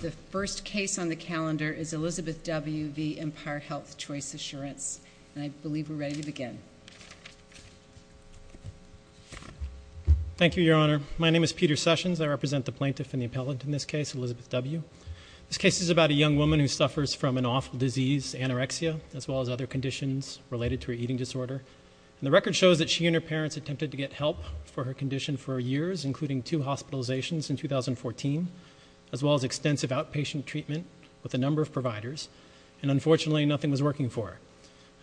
The first case on the calendar is Elizabeth W. v. Empire HealthChoice Assurance. And I believe we're ready to begin. Thank you, Your Honor. My name is Peter Sessions. I represent the plaintiff and the appellant in this case, Elizabeth W. This case is about a young woman who suffers from an awful disease, anorexia, as well as other conditions related to her eating disorder. And the record shows that she and her parents attempted to get help for her condition for years, including two hospitalizations in 2014, as well as extensive outpatient treatment with a number of providers. And unfortunately, nothing was working for her.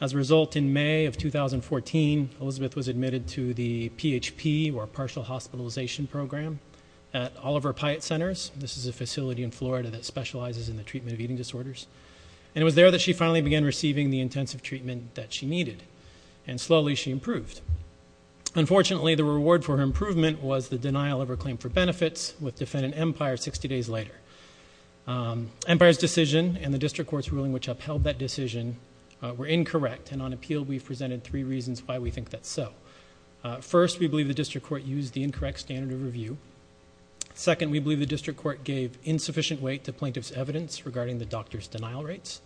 As a result, in May of 2014, Elizabeth was admitted to the PHP, or Partial Hospitalization Program, at Oliver Pyatt Centers. This is a facility in Florida that specializes in the treatment of eating disorders. And it was there that she finally began receiving the intensive treatment that she needed, and slowly she improved. Unfortunately, the reward for her improvement was the denial of her claim for benefits with defendant Empire 60 days later. Empire's decision and the district court's ruling which upheld that decision were incorrect, and on appeal we've presented three reasons why we think that's so. First, we believe the district court used the incorrect standard of review. Second, we believe the district court gave insufficient weight to plaintiff's evidence regarding the doctor's denial rates.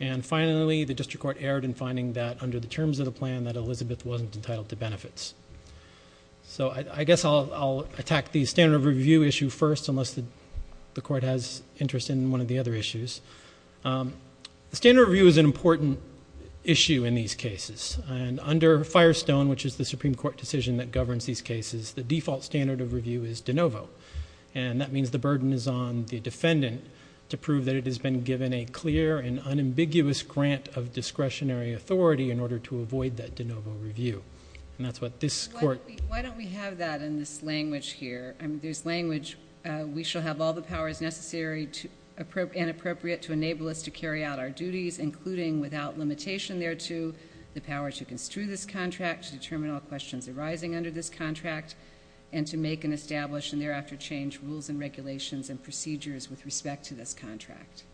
And finally, the district court erred in finding that under the terms of the plan, that Elizabeth wasn't entitled to benefits. So I guess I'll attack the standard of review issue first, unless the court has interest in one of the other issues. Standard of review is an important issue in these cases. Under Firestone, which is the Supreme Court decision that governs these cases, the default standard of review is de novo. And that means the burden is on the defendant to prove that it has been given a clear and unambiguous grant of discretionary authority in order to avoid that de novo review. And that's what this court. Why don't we have that in this language here? This language, we shall have all the powers necessary and appropriate to enable us to carry out our duties, including without limitation thereto the power to construe this contract, to determine all questions arising under this contract, and to make and establish and thereafter change rules and regulations and procedures with respect to this contract.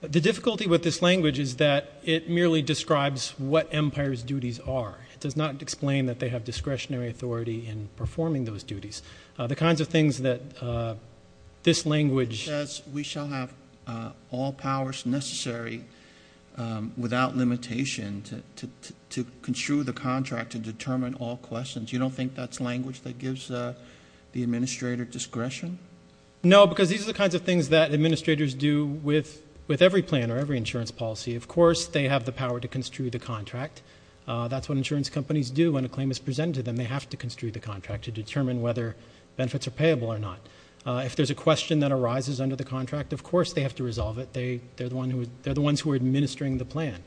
The difficulty with this language is that it merely describes what Empire's duties are. It does not explain that they have discretionary authority in performing those duties. The kinds of things that this language ---- It says we shall have all powers necessary, without limitation, to construe the contract to determine all questions. You don't think that's language that gives the administrator discretion? No, because these are the kinds of things that administrators do with every plan or every insurance policy. Of course they have the power to construe the contract. That's what insurance companies do when a claim is presented to them. They have to construe the contract to determine whether benefits are payable or not. If there's a question that arises under the contract, of course they have to resolve it. They're the ones who are administering the plan.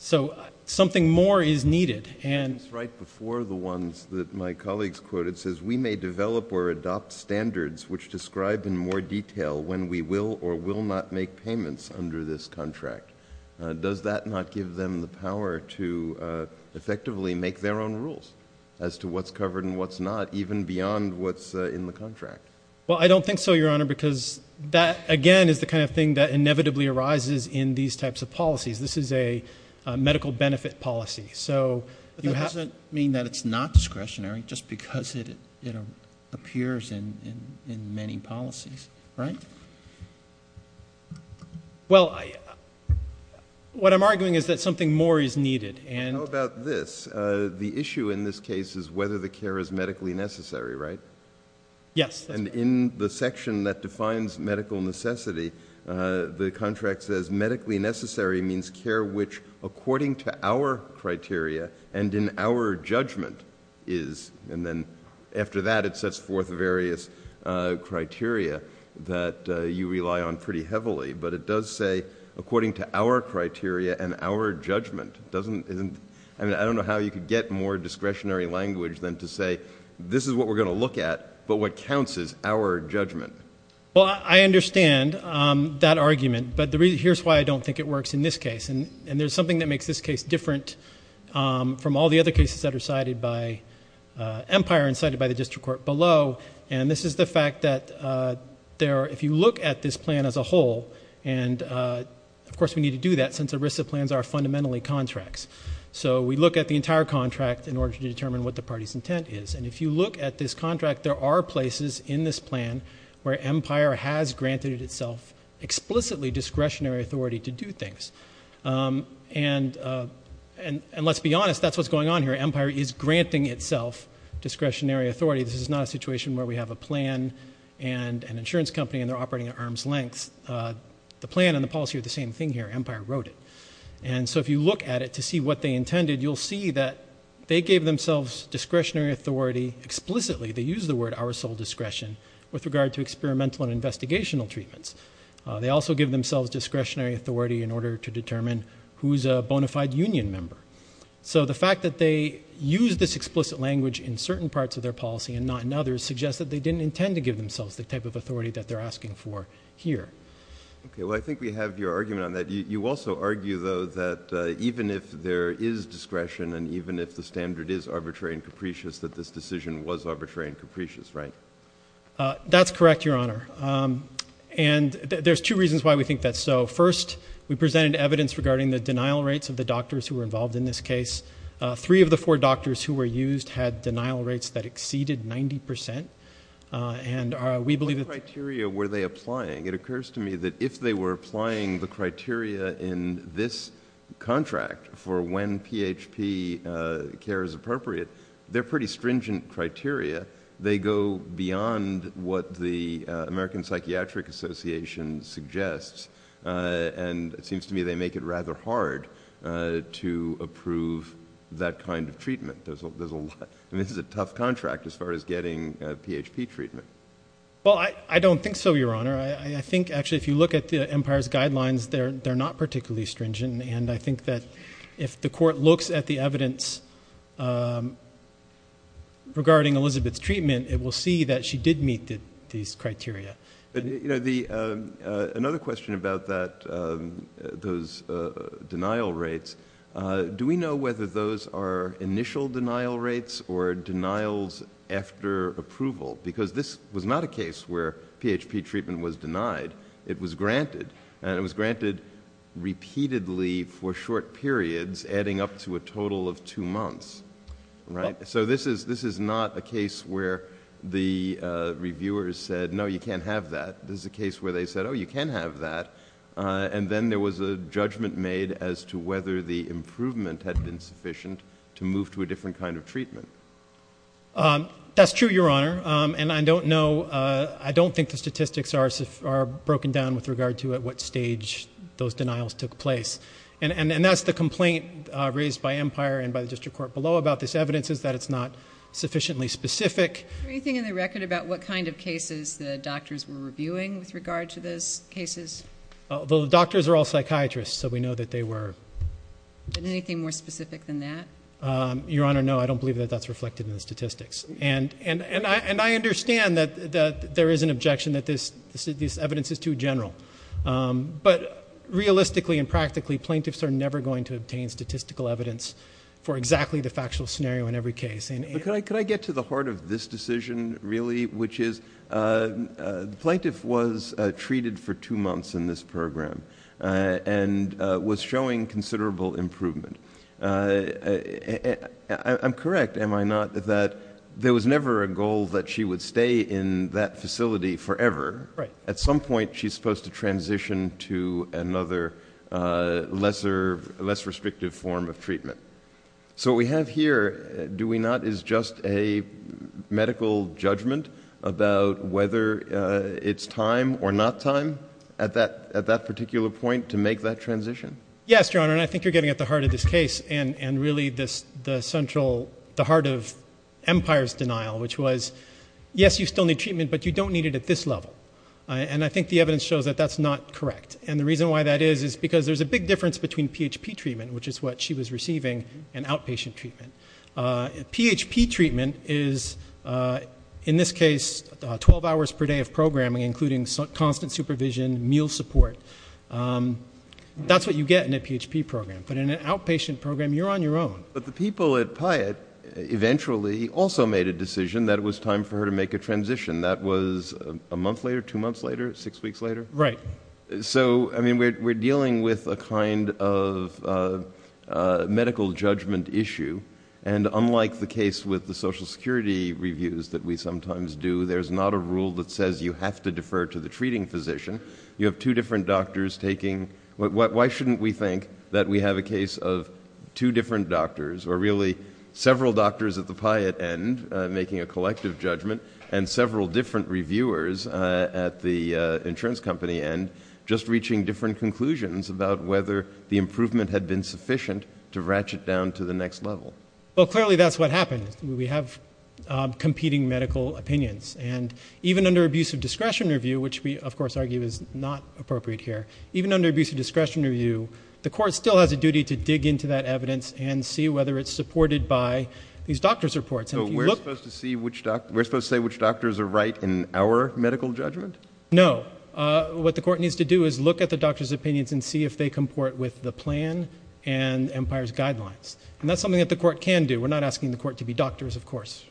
So something more is needed. It's right before the ones that my colleagues quoted. It says we may develop or adopt standards which describe in more detail when we will or will not make payments under this contract. Does that not give them the power to effectively make their own rules as to what's covered and what's not, even beyond what's in the contract? Well, I don't think so, Your Honor, because that, again, is the kind of thing that inevitably arises in these types of policies. This is a medical benefit policy. But that doesn't mean that it's not discretionary just because it appears in many policies, right? Well, what I'm arguing is that something more is needed. How about this? The issue in this case is whether the care is medically necessary, right? Yes. And in the section that defines medical necessity, the contract says medically necessary means care which, according to our criteria and in our judgment, is. And then after that it sets forth various criteria that you rely on pretty heavily. But it does say according to our criteria and our judgment. I don't know how you could get more discretionary language than to say this is what we're going to look at, but what counts is our judgment. Well, I understand that argument, but here's why I don't think it works in this case. And there's something that makes this case different from all the other cases that are cited by Empire and cited by the district court below. And this is the fact that if you look at this plan as a whole, and of course we need to do that since ERISA plans are fundamentally contracts. So we look at the entire contract in order to determine what the party's intent is. And if you look at this contract, there are places in this plan where Empire has granted itself explicitly discretionary authority to do things. And let's be honest, that's what's going on here. Empire is granting itself discretionary authority. This is not a situation where we have a plan and an insurance company and they're operating at arm's length. The plan and the policy are the same thing here. Empire wrote it. And so if you look at it to see what they intended, you'll see that they gave themselves discretionary authority explicitly. They use the word our sole discretion with regard to experimental and investigational treatments. They also give themselves discretionary authority in order to determine who is a bona fide union member. So the fact that they use this explicit language in certain parts of their policy and not in others suggests that they didn't intend to give themselves the type of authority that they're asking for here. Okay, well, I think we have your argument on that. You also argue, though, that even if there is discretion and even if the standard is arbitrary and capricious, that this decision was arbitrary and capricious, right? That's correct, Your Honor. And there's two reasons why we think that's so. First, we presented evidence regarding the denial rates of the doctors who were involved in this case. Three of the four doctors who were used had denial rates that exceeded 90%. What criteria were they applying? It occurs to me that if they were applying the criteria in this contract for when PHP care is appropriate, they're pretty stringent criteria. They go beyond what the American Psychiatric Association suggests, and it seems to me they make it rather hard to approve that kind of treatment. I mean, this is a tough contract as far as getting PHP treatment. Well, I don't think so, Your Honor. I think, actually, if you look at the Empire's guidelines, they're not particularly stringent, and I think that if the court looks at the evidence regarding Elizabeth's treatment, it will see that she did meet these criteria. Another question about those denial rates, do we know whether those are initial denial rates or denials after approval? Because this was not a case where PHP treatment was denied. It was granted, and it was granted repeatedly for short periods, adding up to a total of two months, right? So this is not a case where the reviewers said, no, you can't have that. This is a case where they said, oh, you can have that, and then there was a judgment made as to whether the improvement had been sufficient to move to a different kind of treatment. That's true, Your Honor, and I don't know. I don't think the statistics are broken down with regard to at what stage those denials took place, and that's the complaint raised by Empire and by the district court below about this evidence is that it's not sufficiently specific. Is there anything in the record about what kind of cases the doctors were reviewing with regard to those cases? The doctors are all psychiatrists, so we know that they were. And anything more specific than that? Your Honor, no, I don't believe that that's reflected in the statistics, and I understand that there is an objection that this evidence is too general. But realistically and practically, plaintiffs are never going to obtain statistical evidence for exactly the factual scenario in every case. But could I get to the heart of this decision, really, which is the plaintiff was treated for two months in this program and was showing considerable improvement. I'm correct, am I not, that there was never a goal that she would stay in that facility forever. At some point, she's supposed to transition to another less restrictive form of treatment. So what we have here, do we not, is just a medical judgment about whether it's time or not time at that particular point to make that transition? Yes, Your Honor, and I think you're getting at the heart of this case and really the central, the heart of Empire's denial, which was, yes, you still need treatment, but you don't need it at this level. And I think the evidence shows that that's not correct. And the reason why that is is because there's a big difference between PHP treatment, which is what she was receiving, and outpatient treatment. PHP treatment is, in this case, 12 hours per day of programming, including constant supervision, meal support. That's what you get in a PHP program. But in an outpatient program, you're on your own. But the people at Pyatt eventually also made a decision that it was time for her to make a transition. That was a month later, two months later, six weeks later? Right. So, I mean, we're dealing with a kind of medical judgment issue, and unlike the case with the Social Security reviews that we sometimes do, there's not a rule that says you have to defer to the treating physician. You have two different doctors taking... Why shouldn't we think that we have a case of two different doctors, or really several doctors at the Pyatt end, making a collective judgment, and several different reviewers at the insurance company end just reaching different conclusions about whether the improvement had been sufficient to ratchet down to the next level? Well, clearly that's what happened. We have competing medical opinions. And even under abusive discretion review, which we, of course, argue is not appropriate here, even under abusive discretion review, the court still has a duty to dig into that evidence and see whether it's supported by these doctors' reports. So we're supposed to say which doctors are right in our medical judgment? No. What the court needs to do is look at the doctors' opinions and see if they comport with the plan and Empire's guidelines. And that's something that the court can do. We're not asking the court to be doctors, of course.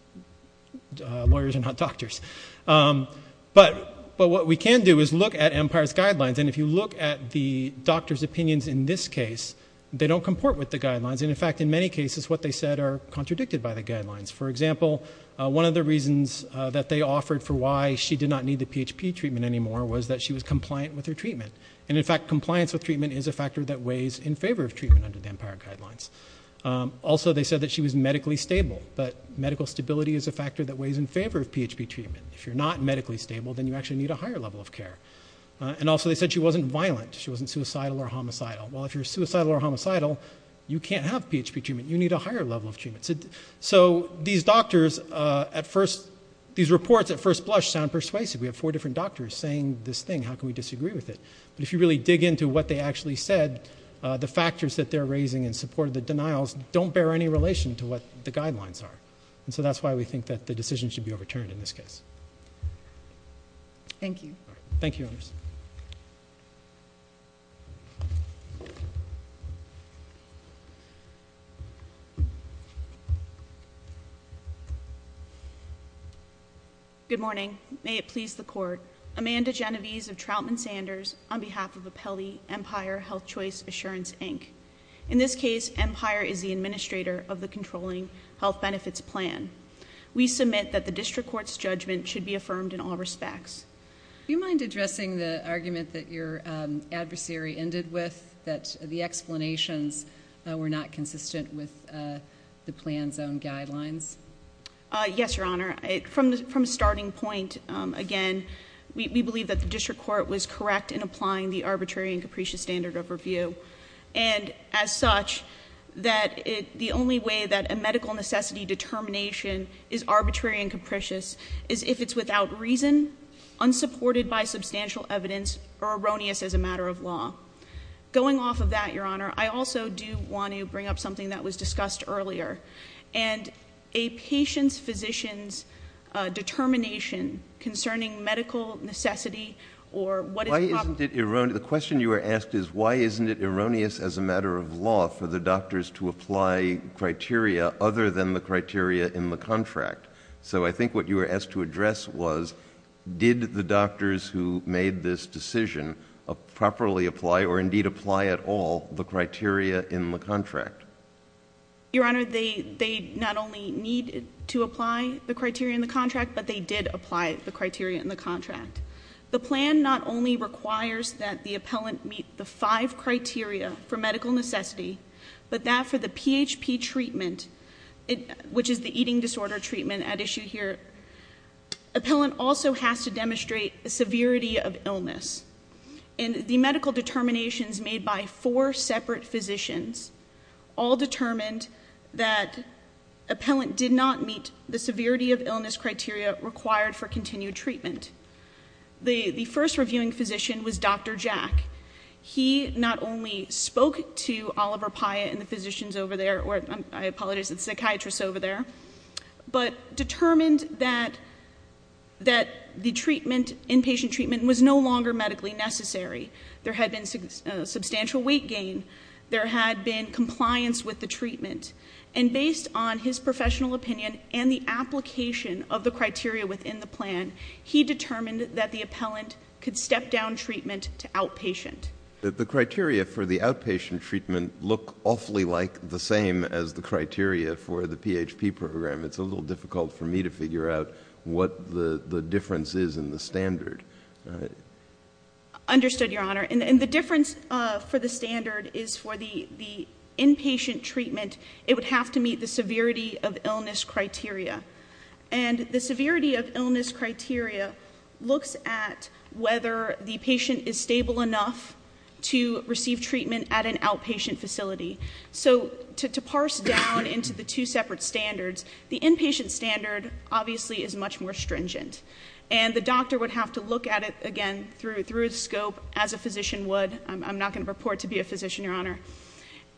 Lawyers are not doctors. But what we can do is look at Empire's guidelines, and if you look at the doctors' opinions in this case, they don't comport with the guidelines. And, in fact, in many cases, what they said are contradicted by the guidelines. For example, one of the reasons that they offered for why she did not need the PHP treatment anymore was that she was compliant with her treatment. And, in fact, compliance with treatment is a factor that weighs in favor of treatment under the Empire guidelines. Also, they said that she was medically stable, but medical stability is a factor that weighs in favor of PHP treatment. If you're not medically stable, then you actually need a higher level of care. And, also, they said she wasn't violent. She wasn't suicidal or homicidal. Well, if you're suicidal or homicidal, you can't have PHP treatment. You need a higher level of treatment. So these doctors at first... these reports at first blush sound persuasive. We have four different doctors saying this thing. How can we disagree with it? But if you really dig into what they actually said, the factors that they're raising in support of the denials don't bear any relation to what the guidelines are. And so that's why we think that the decision should be overturned in this case. Thank you. Thank you, Your Honors. Good morning. May it please the Court. Amanda Genovese of Troutman Sanders on behalf of Apelli Empire Health Choice Assurance, Inc. In this case, Empire is the administrator of the controlling health benefits plan. We submit that the district court's judgment should be affirmed in all respects. Do you mind addressing the argument that your adversary ended with, that the explanations were not consistent with the plan's own guidelines? Yes, Your Honor. From a starting point, again, we believe that the district court was correct in applying the arbitrary and capricious standard of review. And as such, that the only way that a medical necessity determination is arbitrary and capricious is if it's without reason, unsupported by substantial evidence, or erroneous as a matter of law. Going off of that, Your Honor, I also do want to bring up something that was discussed earlier. And a patient's physician's determination concerning medical necessity or what is probably... Why isn't it erroneous? The question you were asked is, why isn't it erroneous as a matter of law for the doctors to apply criteria other than the criteria in the contract? So I think what you were asked to address was, did the doctors who made this decision properly apply or indeed apply at all the criteria in the contract? Your Honor, they not only need to apply the criteria in the contract, but they did apply the criteria in the contract. The plan not only requires that the appellant meet the five criteria for medical necessity, but that for the PHP treatment, which is the eating disorder treatment at issue here, appellant also has to demonstrate the severity of illness. And the medical determinations made by four separate physicians all determined that appellant did not meet the severity of illness criteria required for continued treatment. The first reviewing physician was Dr. Jack. He not only spoke to Oliver Pyatt and the physicians over there, or I apologize, the psychiatrists over there, but determined that the inpatient treatment was no longer medically necessary. There had been substantial weight gain. There had been compliance with the treatment. And based on his professional opinion and the application of the criteria within the plan, he determined that the appellant could step down treatment to outpatient. The criteria for the outpatient treatment look awfully like the same as the criteria for the PHP program. It's a little difficult for me to figure out what the difference is in the standard. Understood, Your Honor. And the difference for the standard is for the inpatient treatment, it would have to meet the severity of illness criteria. And the severity of illness criteria looks at whether the patient is stable enough to receive treatment at an outpatient facility. So to parse down into the two separate standards, the inpatient standard obviously is much more stringent. And the doctor would have to look at it again through a scope as a physician would. I'm not going to purport to be a physician, Your Honor.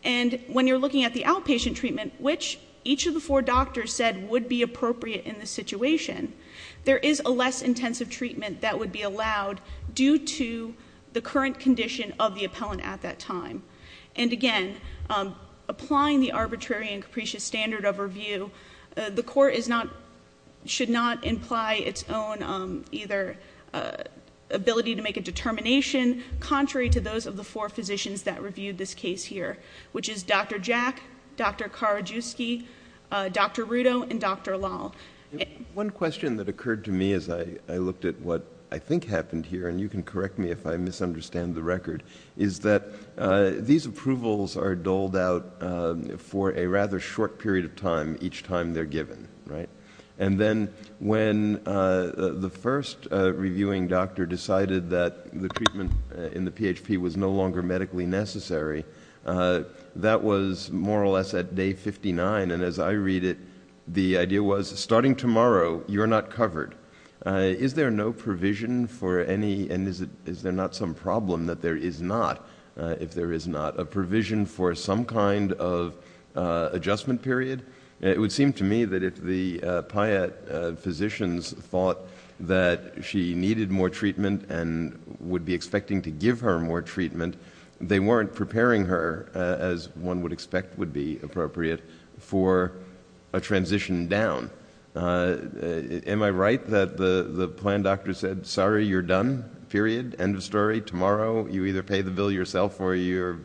And when you're looking at the outpatient treatment, which each of the four doctors said would be appropriate in this situation, there is a less intensive treatment that would be allowed due to the current condition of the appellant at that time. And again, applying the arbitrary and capricious standard of review, the court should not imply its own either ability to make a determination contrary to those of the four physicians that reviewed this case here, which is Dr. Jack, Dr. Karadziewski, Dr. Rudow, and Dr. Lal. One question that occurred to me as I looked at what I think happened here, and you can correct me if I misunderstand the record, is that these approvals are doled out for a rather short period of time each time they're given, right? And then when the first reviewing doctor decided that the treatment in the PHP was no longer medically necessary, that was more or less at day 59, and as I read it, the idea was, starting tomorrow, you're not covered. Is there no provision for any, and is there not some problem that there is not, if there is not, a provision for some kind of adjustment period? It would seem to me that if the PIA physicians thought that she needed more treatment and would be expecting to give her more treatment, they weren't preparing her, as one would expect would be appropriate, for a transition down. Am I right that the plan doctor said, sorry, you're done, period, end of story, tomorrow. You either pay the bill yourself or you've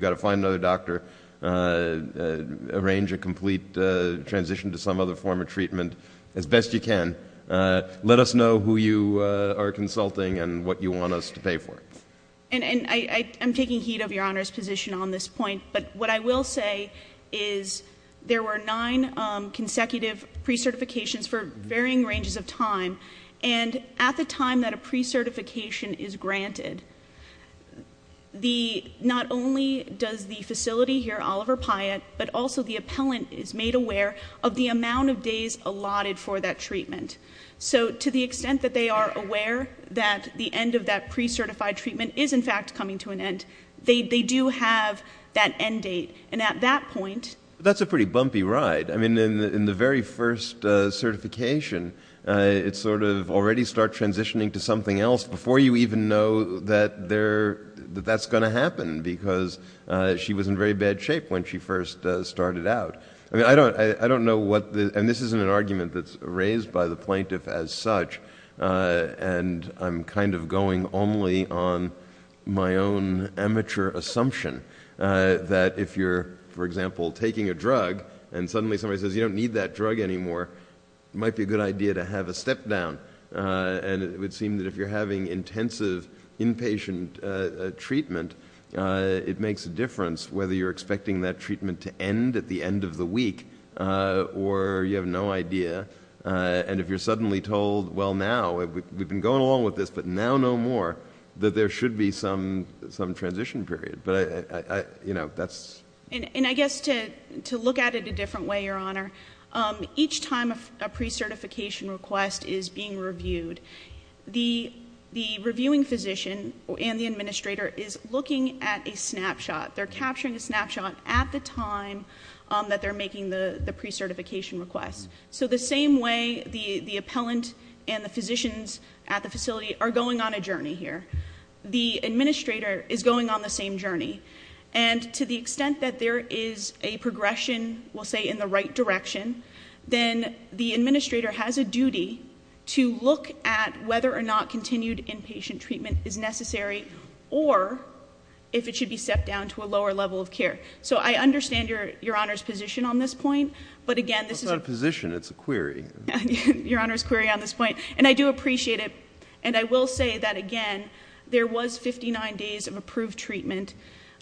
got to find another doctor, arrange a complete transition to some other form of treatment. As best you can. Let us know who you are consulting and what you want us to pay for. I'm taking heed of Your Honor's position on this point, but what I will say is there were nine consecutive pre-certifications for varying ranges of time, and at the time that a pre-certification is granted, not only does the facility here, Oliver Piat, but also the appellant is made aware of the amount of days allotted for that treatment. So to the extent that they are aware that the end of that pre-certified treatment is in fact coming to an end, they do have that end date, and at that point... That's a pretty bumpy ride. I mean, in the very first certification, it's sort of already start transitioning to something else before you even know that that's going to happen, because she was in very bad shape when she first started out. I mean, I don't know what the... And this isn't an argument that's raised by the plaintiff as such, and I'm kind of going only on my own amateur assumption that if you're, for example, taking a drug and suddenly somebody says, you don't need that drug anymore, it might be a good idea to have a step down. And it would seem that if you're having intensive inpatient treatment, it makes a difference whether you're expecting that treatment to end at the end of the week or you have no idea. And if you're suddenly told, well, now, we've been going along with this, but now no more, that there should be some transition period. But, you know, that's... And I guess to look at it a different way, Your Honor, each time a pre-certification request is being reviewed, the reviewing physician and the administrator is looking at a snapshot. They're capturing a snapshot at the time that they're making the pre-certification request. So the same way the appellant and the physicians at the facility are going on a journey here, the administrator is going on the same journey. And to the extent that there is a progression, we'll say, in the right direction, then the administrator has a duty to look at whether or not continued inpatient treatment is necessary or if it should be stepped down to a lower level of care. So I understand Your Honor's position on this point, but again... It's not a position, it's a query. Your Honor's query on this point. And I do appreciate it, and I will say that, again, there was 59 days of approved treatment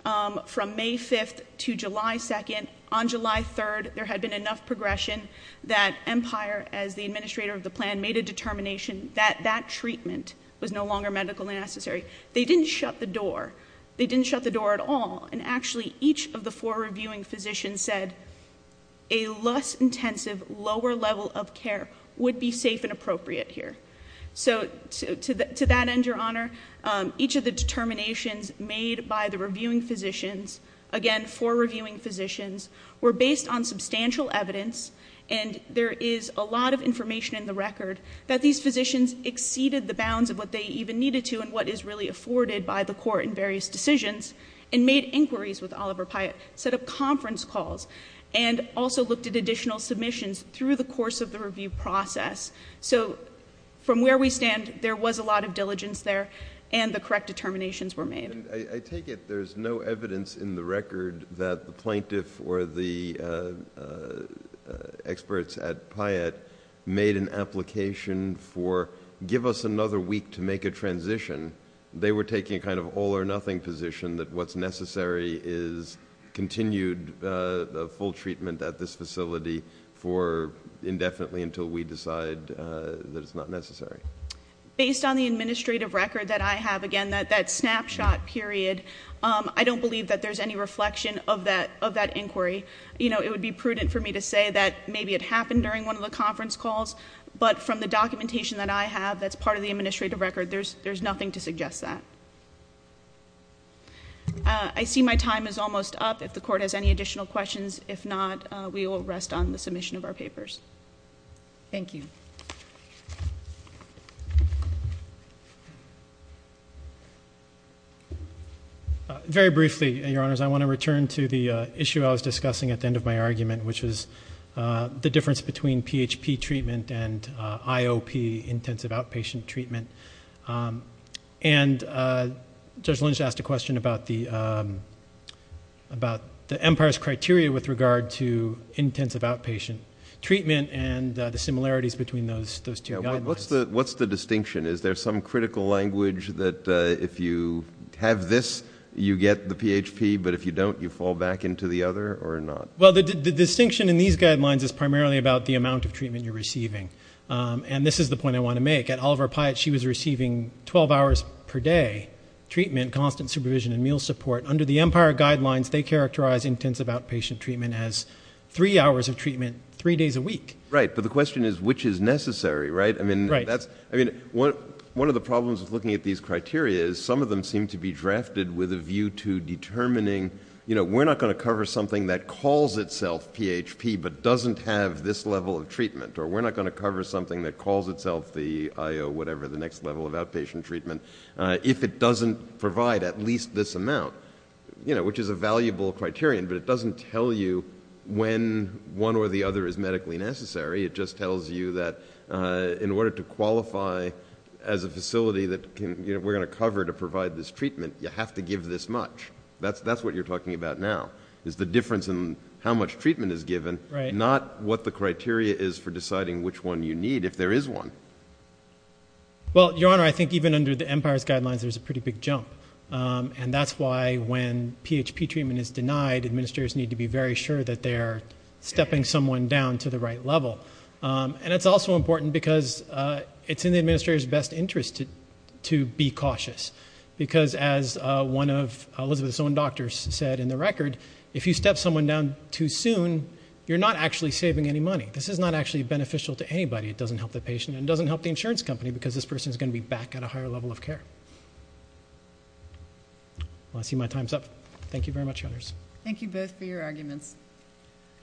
from May 5th to July 2nd. On July 3rd, there had been enough progression that Empire, as the administrator of the plan, made a determination that that treatment was no longer medically necessary. They didn't shut the door. They didn't shut the door at all. And actually, each of the four reviewing physicians said, a less intensive, lower level of care would be safe and appropriate here. So to that end, Your Honor, each of the determinations made by the reviewing physicians, again, four reviewing physicians, were based on substantial evidence, and there is a lot of information in the record that these physicians exceeded the bounds of what they even needed to and what is really afforded by the court in various decisions and made inquiries with Oliver Pyatt, set up conference calls, and also looked at additional submissions through the course of the review process. So from where we stand, there was a lot of diligence there, and the correct determinations were made. I take it there's no evidence in the record that the plaintiff or the experts at Pyatt made an application for, give us another week to make a transition. They were taking a kind of all-or-nothing position that what's necessary is continued full treatment at this facility for indefinitely until we decide that it's not necessary. Based on the administrative record that I have, again, that snapshot period, I don't believe that there's any reflection of that inquiry. You know, it would be prudent for me to say that maybe it happened during one of the conference calls, but from the documentation that I have that's part of the administrative record, there's nothing to suggest that. I see my time is almost up. If the court has any additional questions, if not, we will rest on the submission of our papers. Thank you. Very briefly, Your Honors, I want to return to the issue I was discussing at the end of my argument, which was the difference between PHP treatment and IOP, intensive outpatient treatment. And Judge Lynch asked a question about the Empire's criteria with regard to intensive outpatient treatment and the similarities between those two guidelines. What's the distinction? Is there some critical language that if you have this, you get the PHP, but if you don't, you fall back into the other, or not? Well, the distinction in these guidelines is primarily about the amount of treatment you're receiving. And this is the point I want to make. At Oliver Pyatt, she was receiving 12 hours per day treatment, constant supervision, and meal support. Under the Empire guidelines, they characterize intensive outpatient treatment as three hours of treatment, three days a week. Right, but the question is, which is necessary, right? I mean, one of the problems with looking at these criteria is some of them seem to be drafted with a view to determining, you know, we're not going to cover something that calls itself PHP but doesn't have this level of treatment, or we're not going to cover something that calls itself the IOP, whatever, the next level of outpatient treatment, if it doesn't provide at least this amount, you know, which is a valuable criterion, but it doesn't tell you when one or the other is medically necessary. It just tells you that in order to qualify as a facility that we're going to cover to provide this treatment, you have to give this much. That's what you're talking about now, is the difference in how much treatment is given, not what the criteria is for deciding which one you need, if there is one. Well, Your Honor, I think even under the Empire's guidelines, there's a pretty big jump, and that's why when PHP treatment is denied, administrators need to be very sure that they're stepping someone down to the right level. And it's also important because it's in the administrator's best interest to be cautious, because as one of Elizabeth's own doctors said in the record, if you step someone down too soon, you're not actually saving any money. This is not actually beneficial to anybody. It doesn't help the patient, and it doesn't help the insurance company, because this person's going to be back at a higher level of care. Well, I see my time's up. Thank you very much, Your Honors. Thank you both for your arguments.